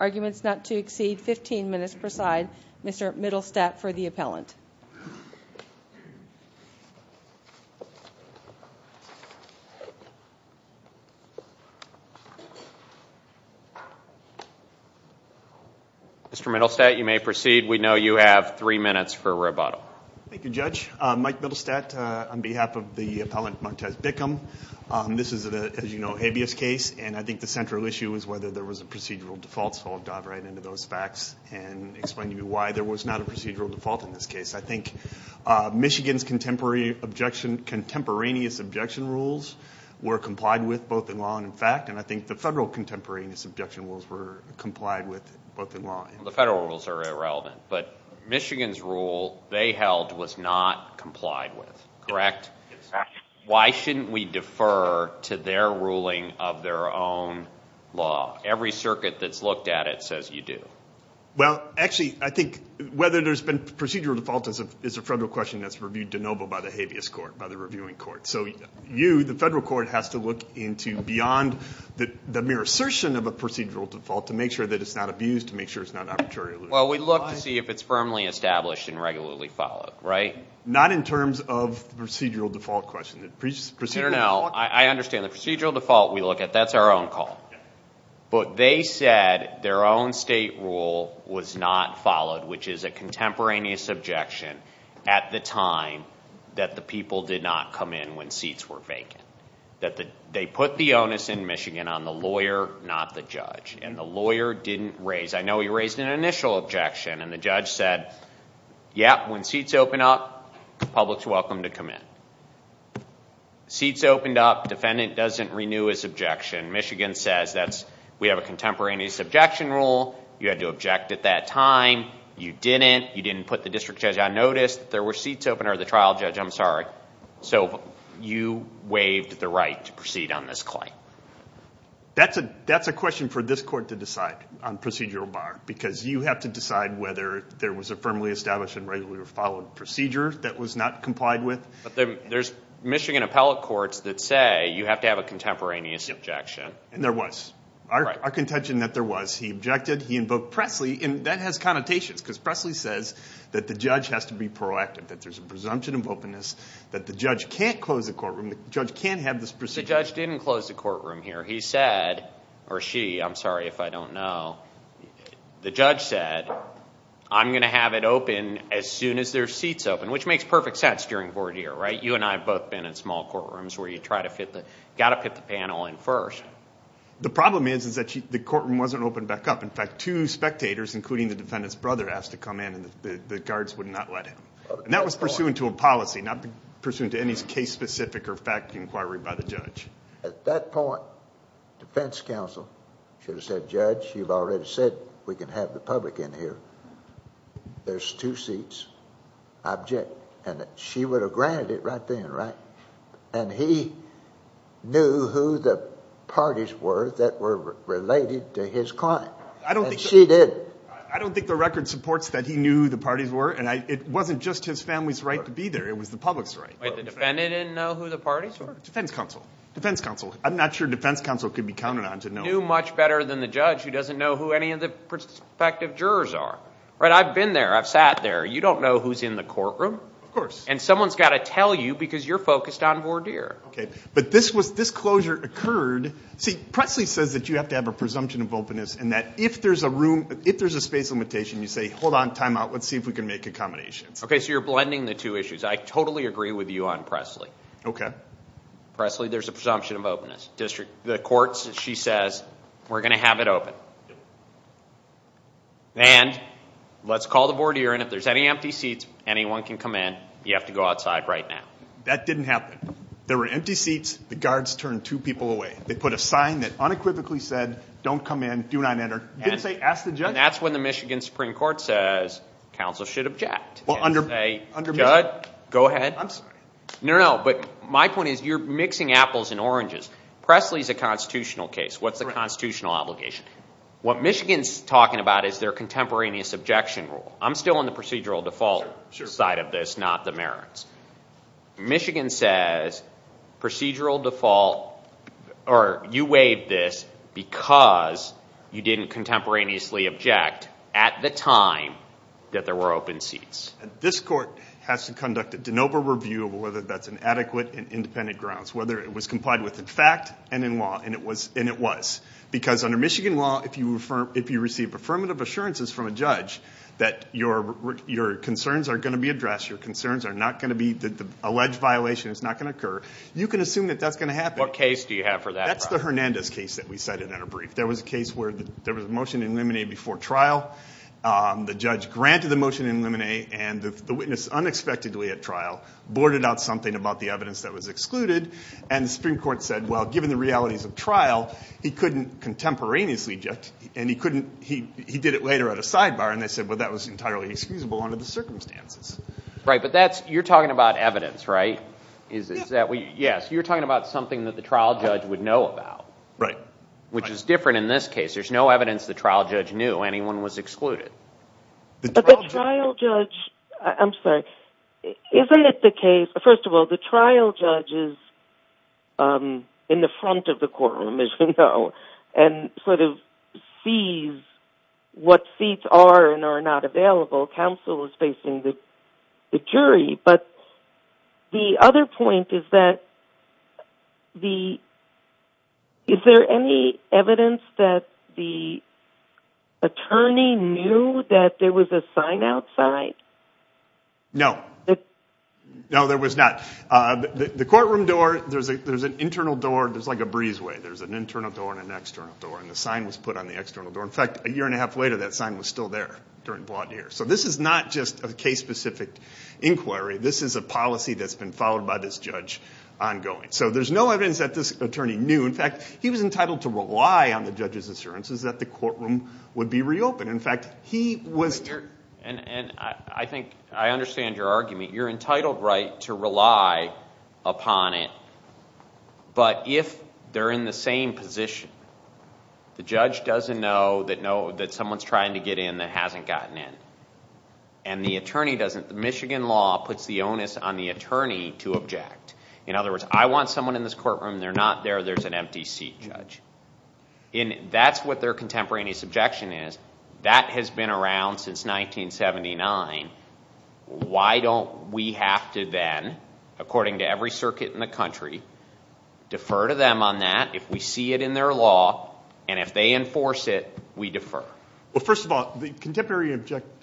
Arguments not to exceed 15 minutes per side. Mr. Middlestadt for the appellant. Mr. Middlestadt, you may proceed. We know you have three minutes for rebuttal. Thank you, Judge. Mike Middlestadt on behalf of the appellant Martez Bickham. This is, as you know, a habeas case. And I think the central issue is whether there was a procedural default. So I'll dive right into those facts and explain to you why there was not a procedural default in this case. I think Michigan's contemporary objection, contemporaneous objection rules were complied with both in law and in fact. And I think the federal contemporaneous objection rules were complied with both in law. The federal rules are irrelevant, but Michigan's rule they held was not complied with. Correct? Why shouldn't we defer to their ruling of their own law? Every circuit that's looked at it says you do. Well, actually, I think whether there's been procedural default is a federal question that's reviewed de novo by the habeas court, by the reviewing court. So you, the federal court, has to look into beyond the mere assertion of a procedural default to make sure that it's not abused, to make sure it's not arbitrary. Well, we look to see if it's firmly established and regularly followed, right? Not in terms of procedural default question. I understand the procedural default we look at, that's our own call. But they said their own state rule was not followed, which is a contemporaneous objection at the time that the people did not come in when seats were vacant. They put the onus in Michigan on the lawyer, not the judge. And the lawyer didn't raise, I know he raised an initial objection, and the judge said, Yep, when seats open up, the public's welcome to come in. Seats opened up, defendant doesn't renew his objection. Michigan says, we have a contemporaneous objection rule, you had to object at that time, you didn't, you didn't put the district judge on notice, there were seats open, or the trial judge, I'm sorry. So you waived the right to proceed on this claim. That's a question for this court to decide on procedural bar. Because you have to decide whether there was a firmly established and regularly followed procedure that was not complied with. But there's Michigan appellate courts that say you have to have a contemporaneous objection. And there was. Our contention that there was, he objected, he invoked Presley, and that has connotations, because Presley says that the judge has to be proactive, that there's a presumption of openness, that the judge can't close the courtroom, the judge can't have this procedure. The judge didn't close the courtroom here. He said, or she, I'm sorry if I don't know, the judge said, I'm going to have it open as soon as there's seats open, which makes perfect sense during court here, right? You and I have both been in small courtrooms where you try to fit the, got to put the panel in first. The problem is, is that the courtroom wasn't opened back up. In fact, two spectators, including the defendant's brother, asked to come in and the guards would not let him. And that was pursuant to a policy, not pursuant to any case-specific or fact inquiry by the judge. At that point, defense counsel should have said, Judge, you've already said we can have the public in here. There's two seats. I object. And she would have granted it right then, right? And he knew who the parties were that were related to his client. And she did. I don't think the record supports that he knew who the parties were. And it wasn't just his family's right to be there. It was the public's right. Wait, the defendant didn't know who the parties were? Defense counsel. Defense counsel. I'm not sure defense counsel could be counted on to know. He knew much better than the judge who doesn't know who any of the prospective jurors are. Right? I've been there. I've sat there. You don't know who's in the courtroom. Of course. And someone's got to tell you because you're focused on Vordeer. Okay. But this was, this closure occurred. See, Presley says that you have to have a presumption of openness and that if there's a room, if there's a space limitation, you say, hold on, time out, let's see if we can make accommodations. Okay, so you're blending the two issues. I totally agree with you on Presley. Okay. Presley, there's a presumption of openness. The court, she says, we're going to have it open. And let's call the Vordeer in. If there's any empty seats, anyone can come in. You have to go outside right now. That didn't happen. There were empty seats. The guards turned two people away. They put a sign that unequivocally said, don't come in, do not enter. Didn't say, ask the judge. And that's when the Michigan Supreme Court says, counsel should object. And say, judge, go ahead. I'm sorry. No, no. But my point is, you're mixing apples and oranges. Presley's a constitutional case. What's the constitutional obligation? What Michigan's talking about is their contemporaneous objection rule. I'm still on the procedural default side of this, not the merits. Michigan says procedural default, or you waived this because you didn't contemporaneously object at the time that there were open seats. This court has to conduct a de novo review of whether that's an adequate and independent grounds. Whether it was complied with in fact and in law, and it was. Because under Michigan law, if you receive affirmative assurances from a judge that your concerns are going to be addressed, your concerns are not going to be, the alleged violation is not going to occur, you can assume that that's going to happen. What case do you have for that? That's the Hernandez case that we cited in a brief. There was a case where there was a motion in limine before trial, the judge granted the motion in limine, and the witness unexpectedly at trial boarded out something about the evidence that was excluded, and the Supreme Court said, well, given the realities of trial, he couldn't contemporaneously object, and he did it later at a sidebar, and they said, well, that was entirely excusable under the circumstances. Right, but you're talking about evidence, right? Yes. Yes, you're talking about something that the trial judge would know about. Right. Which is different in this case. There's no evidence the trial judge knew anyone was excluded. But the trial judge, I'm sorry, isn't it the case, first of all, the trial judge is in the front of the courtroom, as we know, and sort of sees what seats are and are not available. Counsel is facing the jury. But the other point is that is there any evidence that the attorney knew that there was a sign outside? No. No, there was not. The courtroom door, there's an internal door, there's like a breezeway. There's an internal door and an external door, and the sign was put on the external door. In fact, a year and a half later, that sign was still there during broad years. So this is not just a case-specific inquiry. This is a policy that's been followed by this judge ongoing. So there's no evidence that this attorney knew. In fact, he was entitled to rely on the judge's assurances that the courtroom would be reopened. In fact, he was too. And I think I understand your argument. You're entitled, right, to rely upon it. But if they're in the same position, the judge doesn't know that someone's trying to get in that hasn't gotten in. And the attorney doesn't. The Michigan law puts the onus on the attorney to object. In other words, I want someone in this courtroom. They're not there. There's an empty seat, judge. That's what their contemporaneous objection is. That has been around since 1979. Why don't we have to then, according to every circuit in the country, defer to them on that if we see it in their law, and if they enforce it, we defer? Well, first of all, the contemporary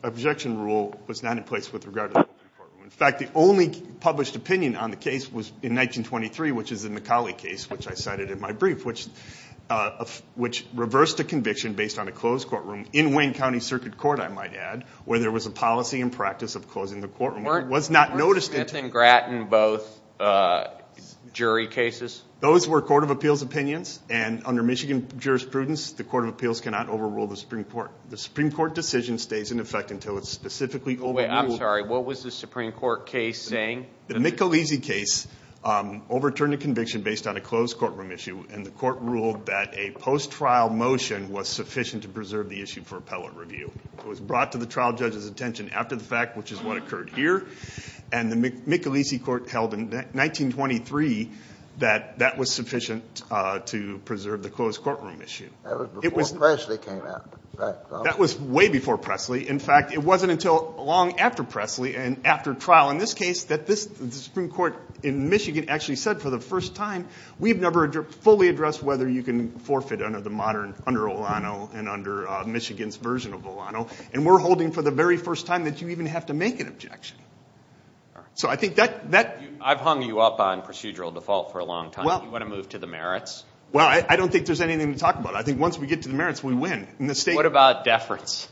objection rule was not in place with regard to the courtroom. In fact, the only published opinion on the case was in 1923, which is the McCauley case, which I cited in my brief, which reversed a conviction based on a closed courtroom in Wayne County Circuit Court, I might add, where there was a policy and practice of closing the courtroom. Weren't Smith and Gratton both jury cases? Those were Court of Appeals opinions, and under Michigan jurisprudence, the Court of Appeals cannot overrule the Supreme Court. The Supreme Court decision stays in effect until it's specifically overruled. Wait, I'm sorry. What was the Supreme Court case saying? The Michelisi case overturned a conviction based on a closed courtroom issue, and the court ruled that a post-trial motion was sufficient to preserve the issue for appellate review. It was brought to the trial judge's attention after the fact, which is what occurred here, and the Michelisi court held in 1923 that that was sufficient to preserve the closed courtroom issue. That was before Presley came out. That was way before Presley. In fact, it wasn't until long after Presley and after trial, in this case, that the Supreme Court in Michigan actually said for the first time, we've never fully addressed whether you can forfeit under Olano and under Michigan's version of Olano, and we're holding for the very first time that you even have to make an objection. So I think that— I've hung you up on procedural default for a long time. You want to move to the merits? Well, I don't think there's anything to talk about. I think once we get to the merits, we win. What about deference?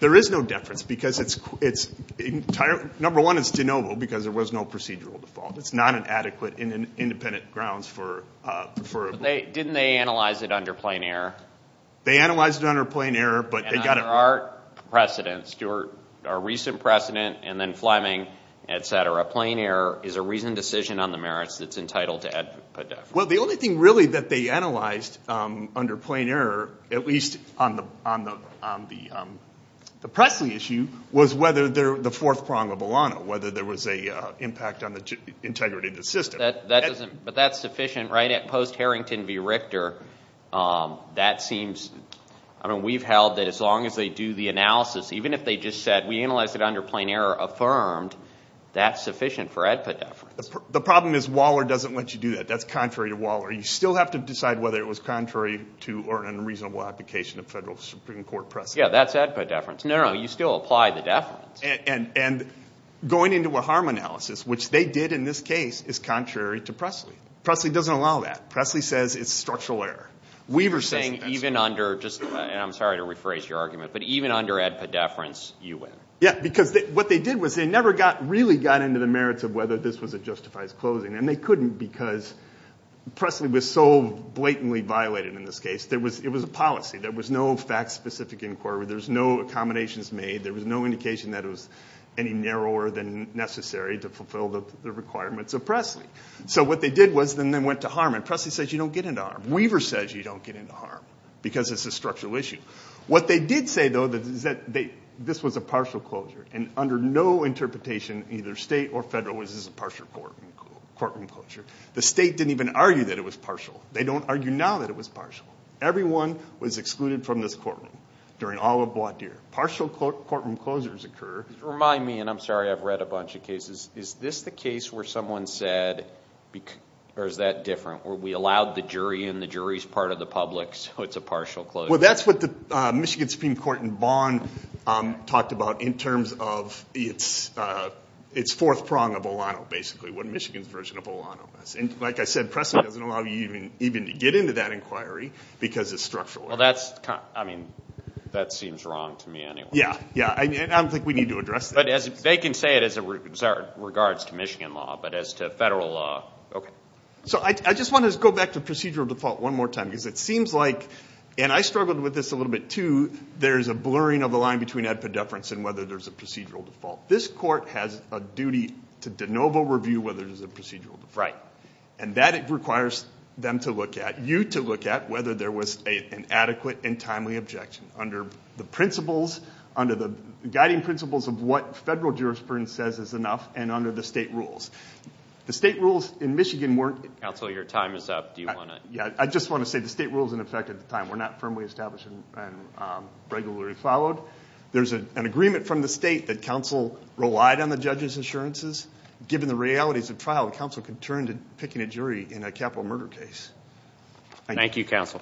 There is no deference because it's entirely— number one, it's de novo because there was no procedural default. It's not an adequate independent grounds for— Didn't they analyze it under plain error? They analyzed it under plain error, but they got a— And under our precedent, Stuart, our recent precedent, and then Fleming, et cetera, plain error is a reasoned decision on the merits that's entitled to put deference. Well, the only thing really that they analyzed under plain error, at least on the Presley issue, was whether the fourth prong of Olano, whether there was an impact on the integrity of the system. But that's sufficient, right? At post-Harrington v. Richter, that seems— I mean, we've held that as long as they do the analysis, even if they just said we analyzed it under plain error affirmed, that's sufficient for ADPA deference. The problem is Waller doesn't let you do that. That's contrary to Waller. You still have to decide whether it was contrary to or an unreasonable application of federal Supreme Court precedent. Yeah, that's ADPA deference. No, no, you still apply the deference. And going into a harm analysis, which they did in this case, is contrary to Presley. Presley doesn't allow that. Presley says it's structural error. Weaver says— You're saying even under—and I'm sorry to rephrase your argument, but even under ADPA deference, you win. Yeah, because what they did was they never really got into the merits of whether this was a justified closing, and they couldn't because Presley was so blatantly violated in this case. It was a policy. There was no fact-specific inquiry. There was no accommodations made. There was no indication that it was any narrower than necessary to fulfill the requirements of Presley. So what they did was then they went to harm, and Presley says you don't get into harm. Weaver says you don't get into harm because it's a structural issue. What they did say, though, is that this was a partial closure, and under no interpretation, either state or federal, was this a partial courtroom closure. The state didn't even argue that it was partial. They don't argue now that it was partial. Everyone was excluded from this courtroom during all of Wadeer. Partial courtroom closures occur. Remind me, and I'm sorry I've read a bunch of cases. Is this the case where someone said, or is that different, where we allowed the jury and the jury's part of the public, so it's a partial closure? Well, that's what the Michigan Supreme Court in Vaughn talked about in terms of its fourth prong of Olano, basically, what Michigan's version of Olano is. Like I said, Presley doesn't allow you even to get into that inquiry because it's structural. Well, I mean, that seems wrong to me anyway. Yeah, yeah, and I don't think we need to address that. But they can say it as it regards to Michigan law, but as to federal law, okay. So I just want to go back to procedural default one more time because it seems like, and I struggled with this a little bit too, there's a blurring of the line between epidefference and whether there's a procedural default. This court has a duty to de novo review whether there's a procedural default. And that requires them to look at, you to look at, whether there was an adequate and timely objection under the principles, under the guiding principles of what federal jurisprudence says is enough and under the state rules. The state rules in Michigan weren't- Counsel, your time is up. Do you want to- Yeah, I just want to say the state rules in effect at the time were not firmly established and regularly followed. There's an agreement from the state that counsel relied on the judge's insurances. Given the realities of trial, counsel can turn to picking a jury in a capital murder case. Thank you, counsel.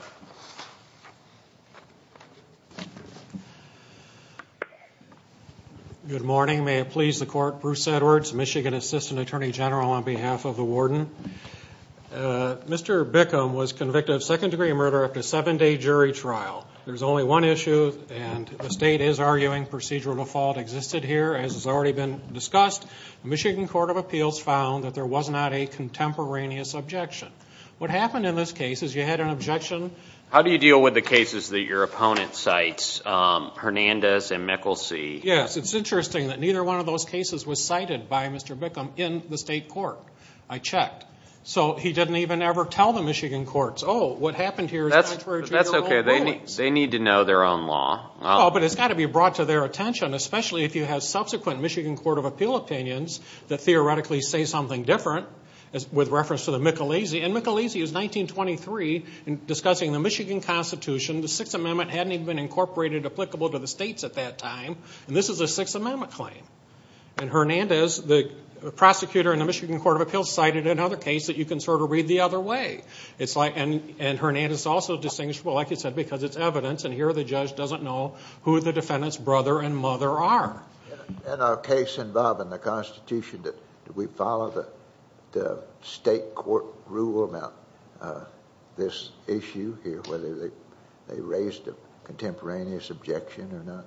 Good morning. May it please the court, Bruce Edwards, Michigan Assistant Attorney General on behalf of the warden. Mr. Bickham was convicted of second degree murder after a seven-day jury trial. There's only one issue, and the state is arguing procedural default existed here. As has already been discussed, the Michigan Court of Appeals found that there was not a contemporaneous objection. What happened in this case is you had an objection- How do you deal with the cases that your opponent cites, Hernandez and Mikkelsee? Yes, it's interesting that neither one of those cases was cited by Mr. Bickham in the state court. I checked. So he didn't even ever tell the Michigan courts, oh, what happened here is contrary to your own rulings. That's okay. They need to know their own law. Oh, but it's got to be brought to their attention, especially if you have subsequent Michigan Court of Appeal opinions that theoretically say something different with reference to the Mikkelsee. And Mikkelsee is 1923 discussing the Michigan Constitution. The Sixth Amendment hadn't even been incorporated applicable to the states at that time, and this is a Sixth Amendment claim. And Hernandez, the prosecutor in the Michigan Court of Appeals, cited another case that you can sort of read the other way. And Hernandez is also distinguishable, like you said, because it's evidence, and here the judge doesn't know who the defendant's brother and mother are. In our case involving the Constitution, did we follow the state court rule about this issue here, whether they raised a contemporaneous objection or not?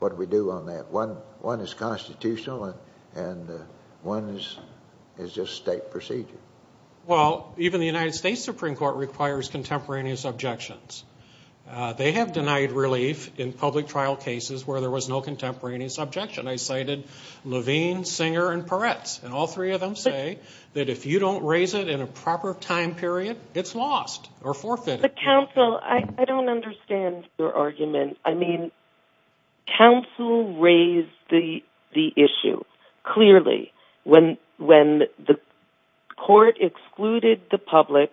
What do we do on that? One is constitutional, and one is just state procedure. Well, even the United States Supreme Court requires contemporaneous objections. They have denied relief in public trial cases where there was no contemporaneous objection. I cited Levine, Singer, and Peretz, and all three of them say that if you don't raise it in a proper time period, it's lost or forfeited. But counsel, I don't understand your argument. I mean, counsel raised the issue, clearly. When the court excluded the public,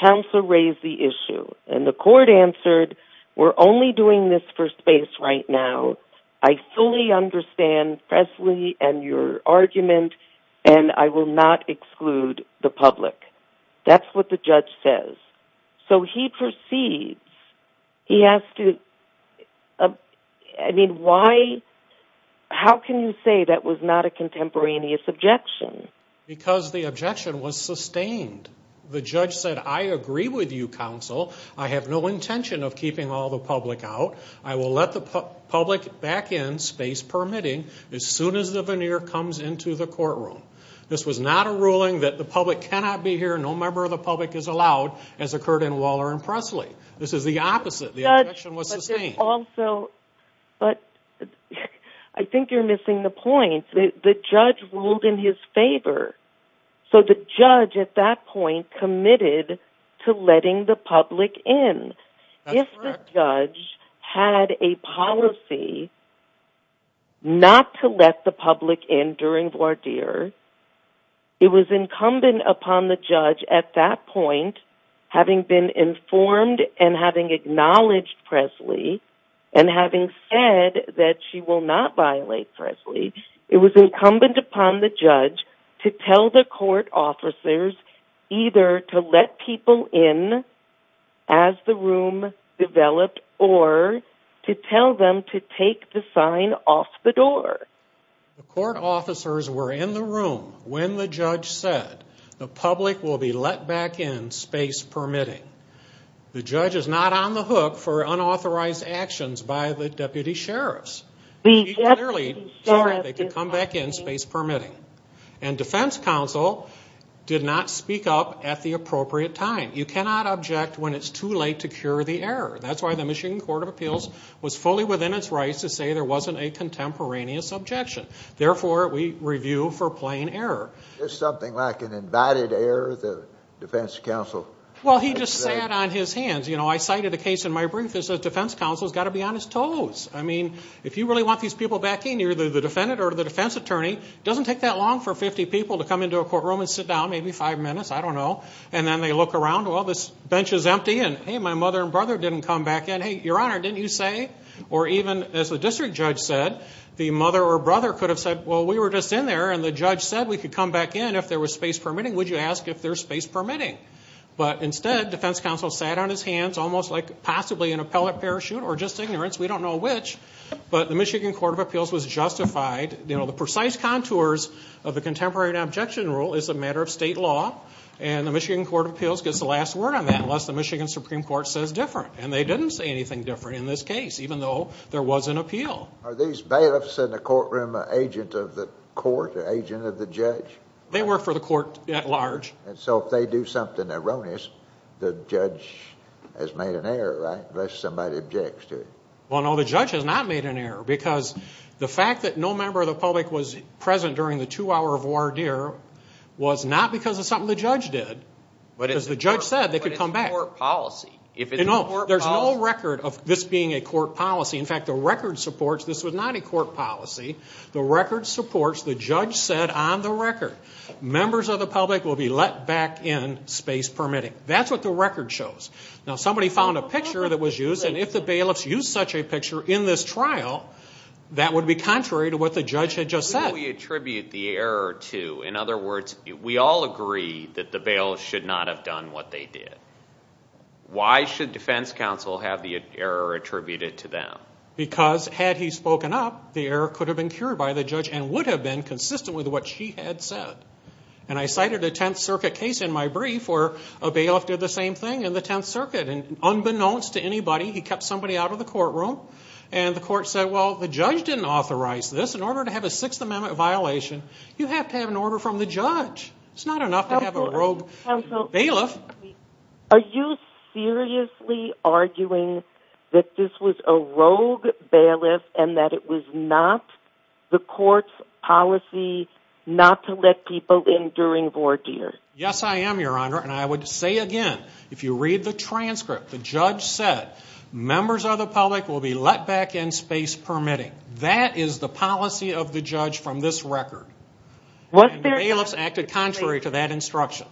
counsel raised the issue, and the court answered, we're only doing this for space right now. I fully understand Presley and your argument, and I will not exclude the public. That's what the judge says. So he proceeds. He has to, I mean, why, how can you say that was not a contemporaneous objection? Because the objection was sustained. The judge said, I agree with you, counsel. I have no intention of keeping all the public out. I will let the public back in, space permitting, as soon as the veneer comes into the courtroom. This was not a ruling that the public cannot be here, no member of the public is allowed, as occurred in Waller and Presley. This is the opposite. The objection was sustained. But I think you're missing the point. The judge ruled in his favor. So the judge at that point committed to letting the public in. That's correct. It was incumbent upon the judge at that point, having been informed and having acknowledged Presley, and having said that she will not violate Presley, it was incumbent upon the judge to tell the court officers either to let people in as the room developed or to tell them to take the sign off the door. The court officers were in the room when the judge said the public will be let back in, space permitting. The judge is not on the hook for unauthorized actions by the deputy sheriffs. He clearly said they could come back in, space permitting. And defense counsel did not speak up at the appropriate time. You cannot object when it's too late to cure the error. That's why the Michigan Court of Appeals was fully within its rights to say there wasn't a contemporaneous objection. Therefore, we review for plain error. Is something like an invited error the defense counsel? Well, he just sat on his hands. You know, I cited a case in my brief that says defense counsel has got to be on his toes. I mean, if you really want these people back in, you're the defendant or the defense attorney. It doesn't take that long for 50 people to come into a courtroom and sit down, maybe five minutes, I don't know. And then they look around, well, this bench is empty. And hey, my mother and brother didn't come back in. Hey, your honor, didn't you say? Or even, as the district judge said, the mother or brother could have said, well, we were just in there. And the judge said we could come back in if there was space permitting. Would you ask if there's space permitting? But instead, defense counsel sat on his hands almost like possibly an appellate parachute or just ignorance. We don't know which. But the Michigan Court of Appeals was justified. You know, the precise contours of the contemporary objection rule is a matter of state law. And the Michigan Court of Appeals gets the last word on that unless the Michigan Supreme Court says different. And they didn't say anything different in this case, even though there was an appeal. Are these bailiffs in the courtroom an agent of the court, an agent of the judge? They work for the court at large. And so if they do something erroneous, the judge has made an error, right, unless somebody objects to it? Well, no, the judge has not made an error because the fact that no member of the public was present during the two-hour voir dire was not because of something the judge did. Because the judge said they could come back. But it's a court policy. No, there's no record of this being a court policy. In fact, the record supports this was not a court policy. The record supports the judge said on the record, members of the public will be let back in space permitting. That's what the record shows. Now, somebody found a picture that was used, and if the bailiffs used such a picture in this trial, that would be contrary to what the judge had just said. Who do we attribute the error to? In other words, we all agree that the bailiffs should not have done what they did. Why should defense counsel have the error attributed to them? Because had he spoken up, the error could have been cured by the judge and would have been consistent with what she had said. And I cited a Tenth Circuit case in my brief where a bailiff did the same thing in the Tenth Circuit. And unbeknownst to anybody, he kept somebody out of the courtroom, and the court said, well, the judge didn't authorize this. In order to have a Sixth Amendment violation, you have to have an order from the judge. It's not enough to have a rogue bailiff. Are you seriously arguing that this was a rogue bailiff and that it was not the court's policy not to let people in during voir dire? Yes, I am, Your Honor, and I would say again, if you read the transcript, the judge said members of the public will be let back in space permitting. That is the policy of the judge from this record. And the bailiffs acted contrary to that instruction.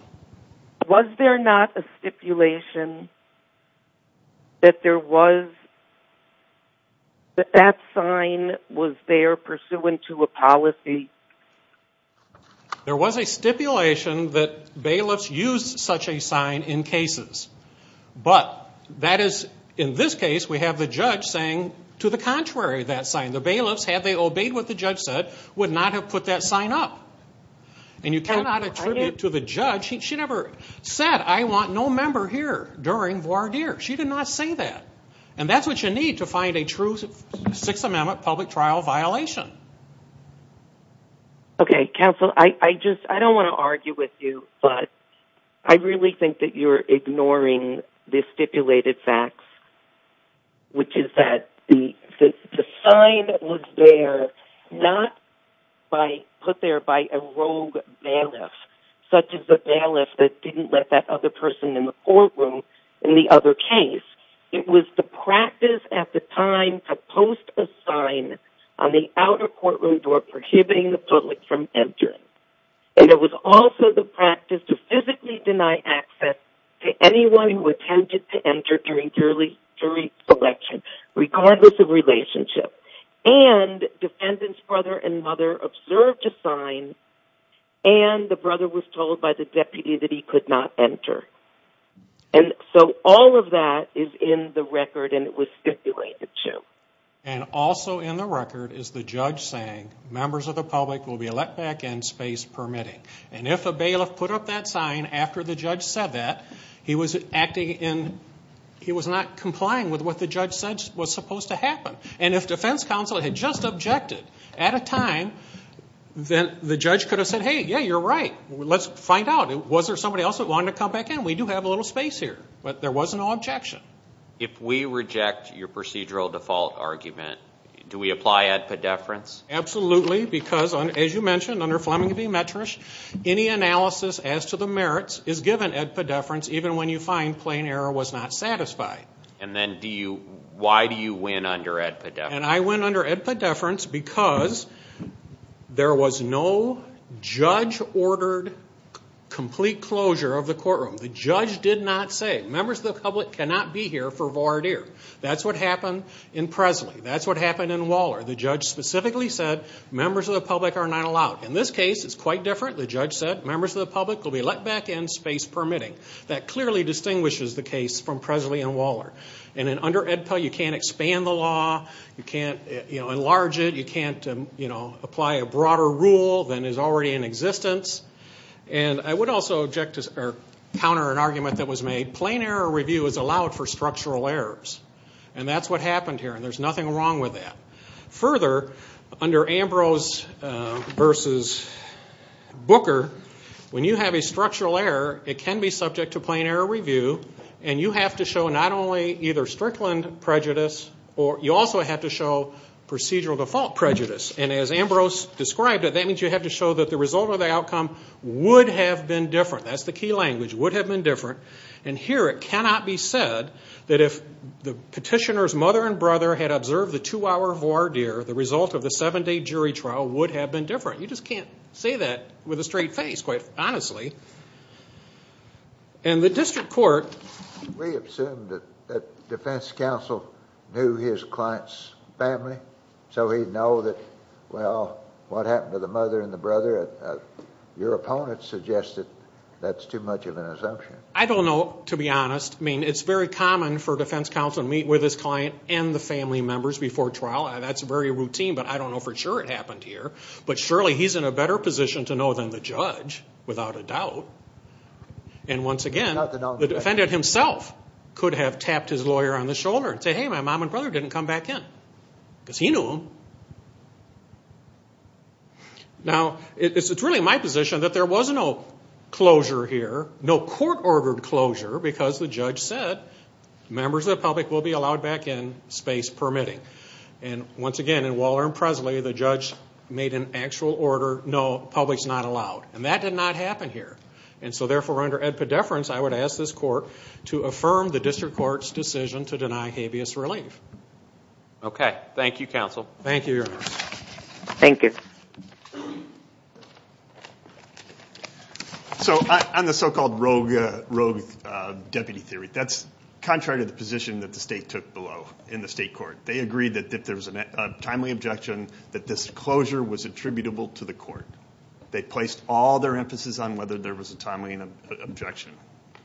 Was there not a stipulation that that sign was there pursuant to a policy? There was a stipulation that bailiffs used such a sign in cases. But that is, in this case, we have the judge saying to the contrary that sign. The bailiffs, had they obeyed what the judge said, would not have put that sign up. And you cannot attribute to the judge, she never said, I want no member here during voir dire. She did not say that. And that's what you need to find a true Sixth Amendment public trial violation. Okay, counsel, I don't want to argue with you, but I really think that you're ignoring the stipulated facts, which is that the sign that was there, not put there by a rogue bailiff, such as the bailiff that didn't let that other person in the courtroom in the other case. It was the practice at the time to post a sign on the outer courtroom door prohibiting the public from entering. And it was also the practice to physically deny access to anyone who attempted to enter during jury selection, regardless of relationship. And defendants' brother and mother observed a sign, and the brother was told by the deputy that he could not enter. And so all of that is in the record, and it was stipulated, too. And also in the record is the judge saying, members of the public will be let back in, space permitting. And if a bailiff put up that sign after the judge said that, he was not complying with what the judge said was supposed to happen. And if defense counsel had just objected at a time, then the judge could have said, hey, yeah, you're right. Let's find out, was there somebody else that wanted to come back in? We do have a little space here. But there was no objection. If we reject your procedural default argument, do we apply ad pedeference? Absolutely, because, as you mentioned, under Fleming v. Metrish, any analysis as to the merits is given ad pedeference, even when you find plain error was not satisfied. And then why do you win under ad pedeference? And I win under ad pedeference because there was no judge-ordered complete closure of the courtroom. The judge did not say, members of the public cannot be here for voir dire. That's what happened in Presley. That's what happened in Waller. The judge specifically said, members of the public are not allowed. In this case, it's quite different. The judge said, members of the public will be let back in, space permitting. That clearly distinguishes the case from Presley and Waller. And under ADPEL, you can't expand the law. You can't enlarge it. You can't apply a broader rule than is already in existence. And I would also counter an argument that was made. Plain error review is allowed for structural errors. And that's what happened here, and there's nothing wrong with that. Further, under Ambrose v. Booker, when you have a structural error, it can be subject to plain error review, and you have to show not only either Strickland prejudice, you also have to show procedural default prejudice. And as Ambrose described it, that means you have to show that the result of the outcome would have been different. That's the key language, would have been different. And here it cannot be said that if the petitioner's mother and brother had observed the two-hour voir dire, the result of the seven-day jury trial would have been different. You just can't say that with a straight face, quite honestly. And the district court. We assume that defense counsel knew his client's family, so he'd know that, well, what happened to the mother and the brother, your opponent suggested that's too much of an assumption. I don't know, to be honest. I mean, it's very common for defense counsel to meet with his client and the family members before trial. That's very routine, but I don't know for sure it happened here. But surely he's in a better position to know than the judge, without a doubt. And once again, the defendant himself could have tapped his lawyer on the shoulder and said, hey, my mom and brother didn't come back in, because he knew them. Now, it's really my position that there was no closure here, no court-ordered closure, because the judge said members of the public will be allowed back in, space permitting. And once again, in Waller and Presley, the judge made an actual order, no, public's not allowed. And that did not happen here. And so, therefore, under ed pedeference, I would ask this court to affirm the district court's decision to deny habeas relief. Okay. Thank you, counsel. Thank you, Your Honor. Thank you. So on the so-called rogue deputy theory, that's contrary to the position that the state took below in the state court. They agreed that if there was a timely objection, that this closure was attributable to the court. They placed all their emphasis on whether there was a timely objection.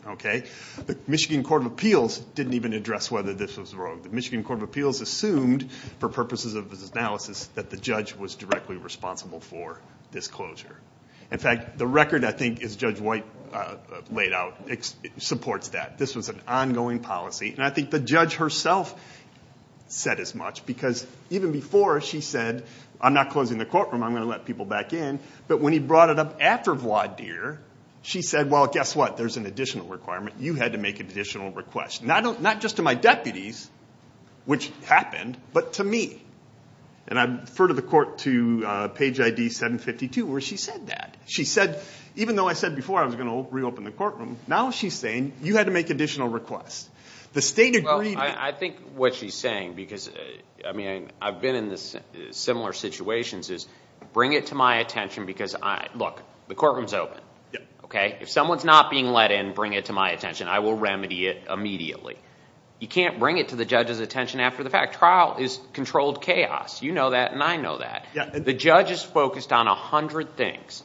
Okay. The Michigan Court of Appeals didn't even address whether this was rogue. The Michigan Court of Appeals assumed, for purposes of this analysis, that the judge was directly responsible for this closure. In fact, the record, I think, as Judge White laid out, supports that. This was an ongoing policy. And I think the judge herself said as much, because even before she said, I'm not closing the courtroom. I'm going to let people back in. But when he brought it up after Vladir, she said, well, guess what? There's an additional requirement. You had to make an additional request. Not just to my deputies, which happened, but to me. And I refer to the court to page ID 752 where she said that. She said, even though I said before I was going to reopen the courtroom, now she's saying you had to make additional requests. The state agreed. I think what she's saying, because I've been in similar situations, is bring it to my attention because, look, the courtroom's open. If someone's not being let in, bring it to my attention. I will remedy it immediately. You can't bring it to the judge's attention after the fact. Trial is controlled chaos. You know that and I know that. The judge is focused on 100 things.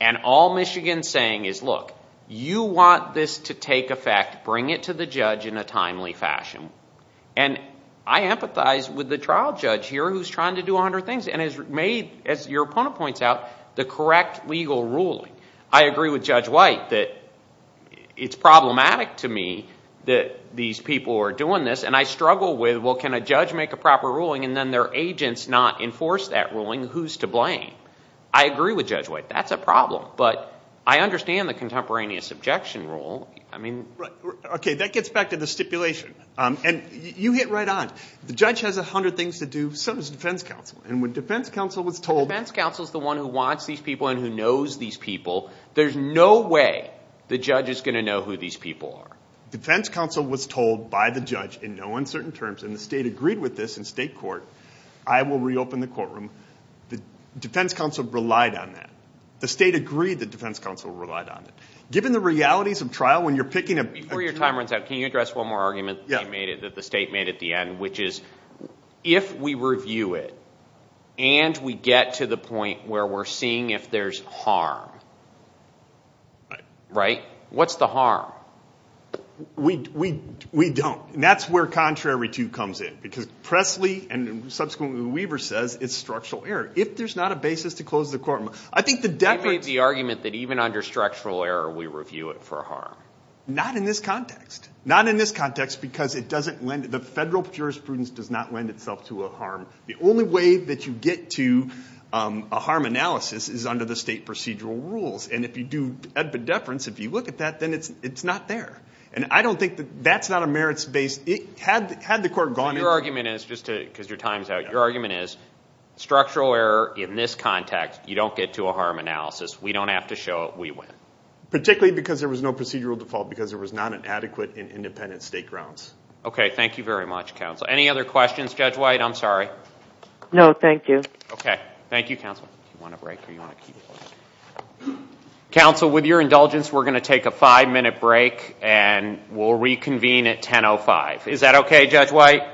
And all Michigan's saying is, look, you want this to take effect, bring it to the judge in a timely fashion. And I empathize with the trial judge here who's trying to do 100 things and has made, as your opponent points out, the correct legal ruling. I agree with Judge White that it's problematic to me that these people are doing this. And I struggle with, well, can a judge make a proper ruling and then their agents not enforce that ruling? Who's to blame? I agree with Judge White. That's a problem. But I understand the contemporaneous objection rule. I mean. Right. Okay, that gets back to the stipulation. And you hit right on. The judge has 100 things to do, so does the defense counsel. And when defense counsel was told. The defense counsel's the one who wants these people and who knows these people. There's no way the judge is going to know who these people are. Defense counsel was told by the judge in no uncertain terms, and the state agreed with this in state court, I will reopen the courtroom. The defense counsel relied on that. The state agreed the defense counsel relied on it. Given the realities of trial when you're picking a... Before your time runs out, can you address one more argument that the state made at the end, which is if we review it and we get to the point where we're seeing if there's harm. Right. What's the harm? We don't. That's where contrary to comes in because Presley and subsequently Weaver says it's structural error. If there's not a basis to close the courtroom. I think the deference... We made the argument that even under structural error, we review it for harm. Not in this context. Not in this context because it doesn't lend... The federal jurisprudence does not lend itself to a harm. The only way that you get to a harm analysis is under the state procedural rules. And if you do epideference, if you look at that, then it's not there. And I don't think that that's not a merits-based... Had the court gone into... Your argument is, just because your time's out, your argument is structural error in this context, you don't get to a harm analysis. We don't have to show it. We win. Particularly because there was no procedural default because there was not an adequate and independent state grounds. Okay. Thank you very much, counsel. Any other questions? Judge White, I'm sorry. No, thank you. Okay. Thank you, counsel. Do you want a break or do you want to keep going? Counsel, with your indulgence, we're going to take a five-minute break and we'll reconvene at 10.05. Is that okay, Judge White?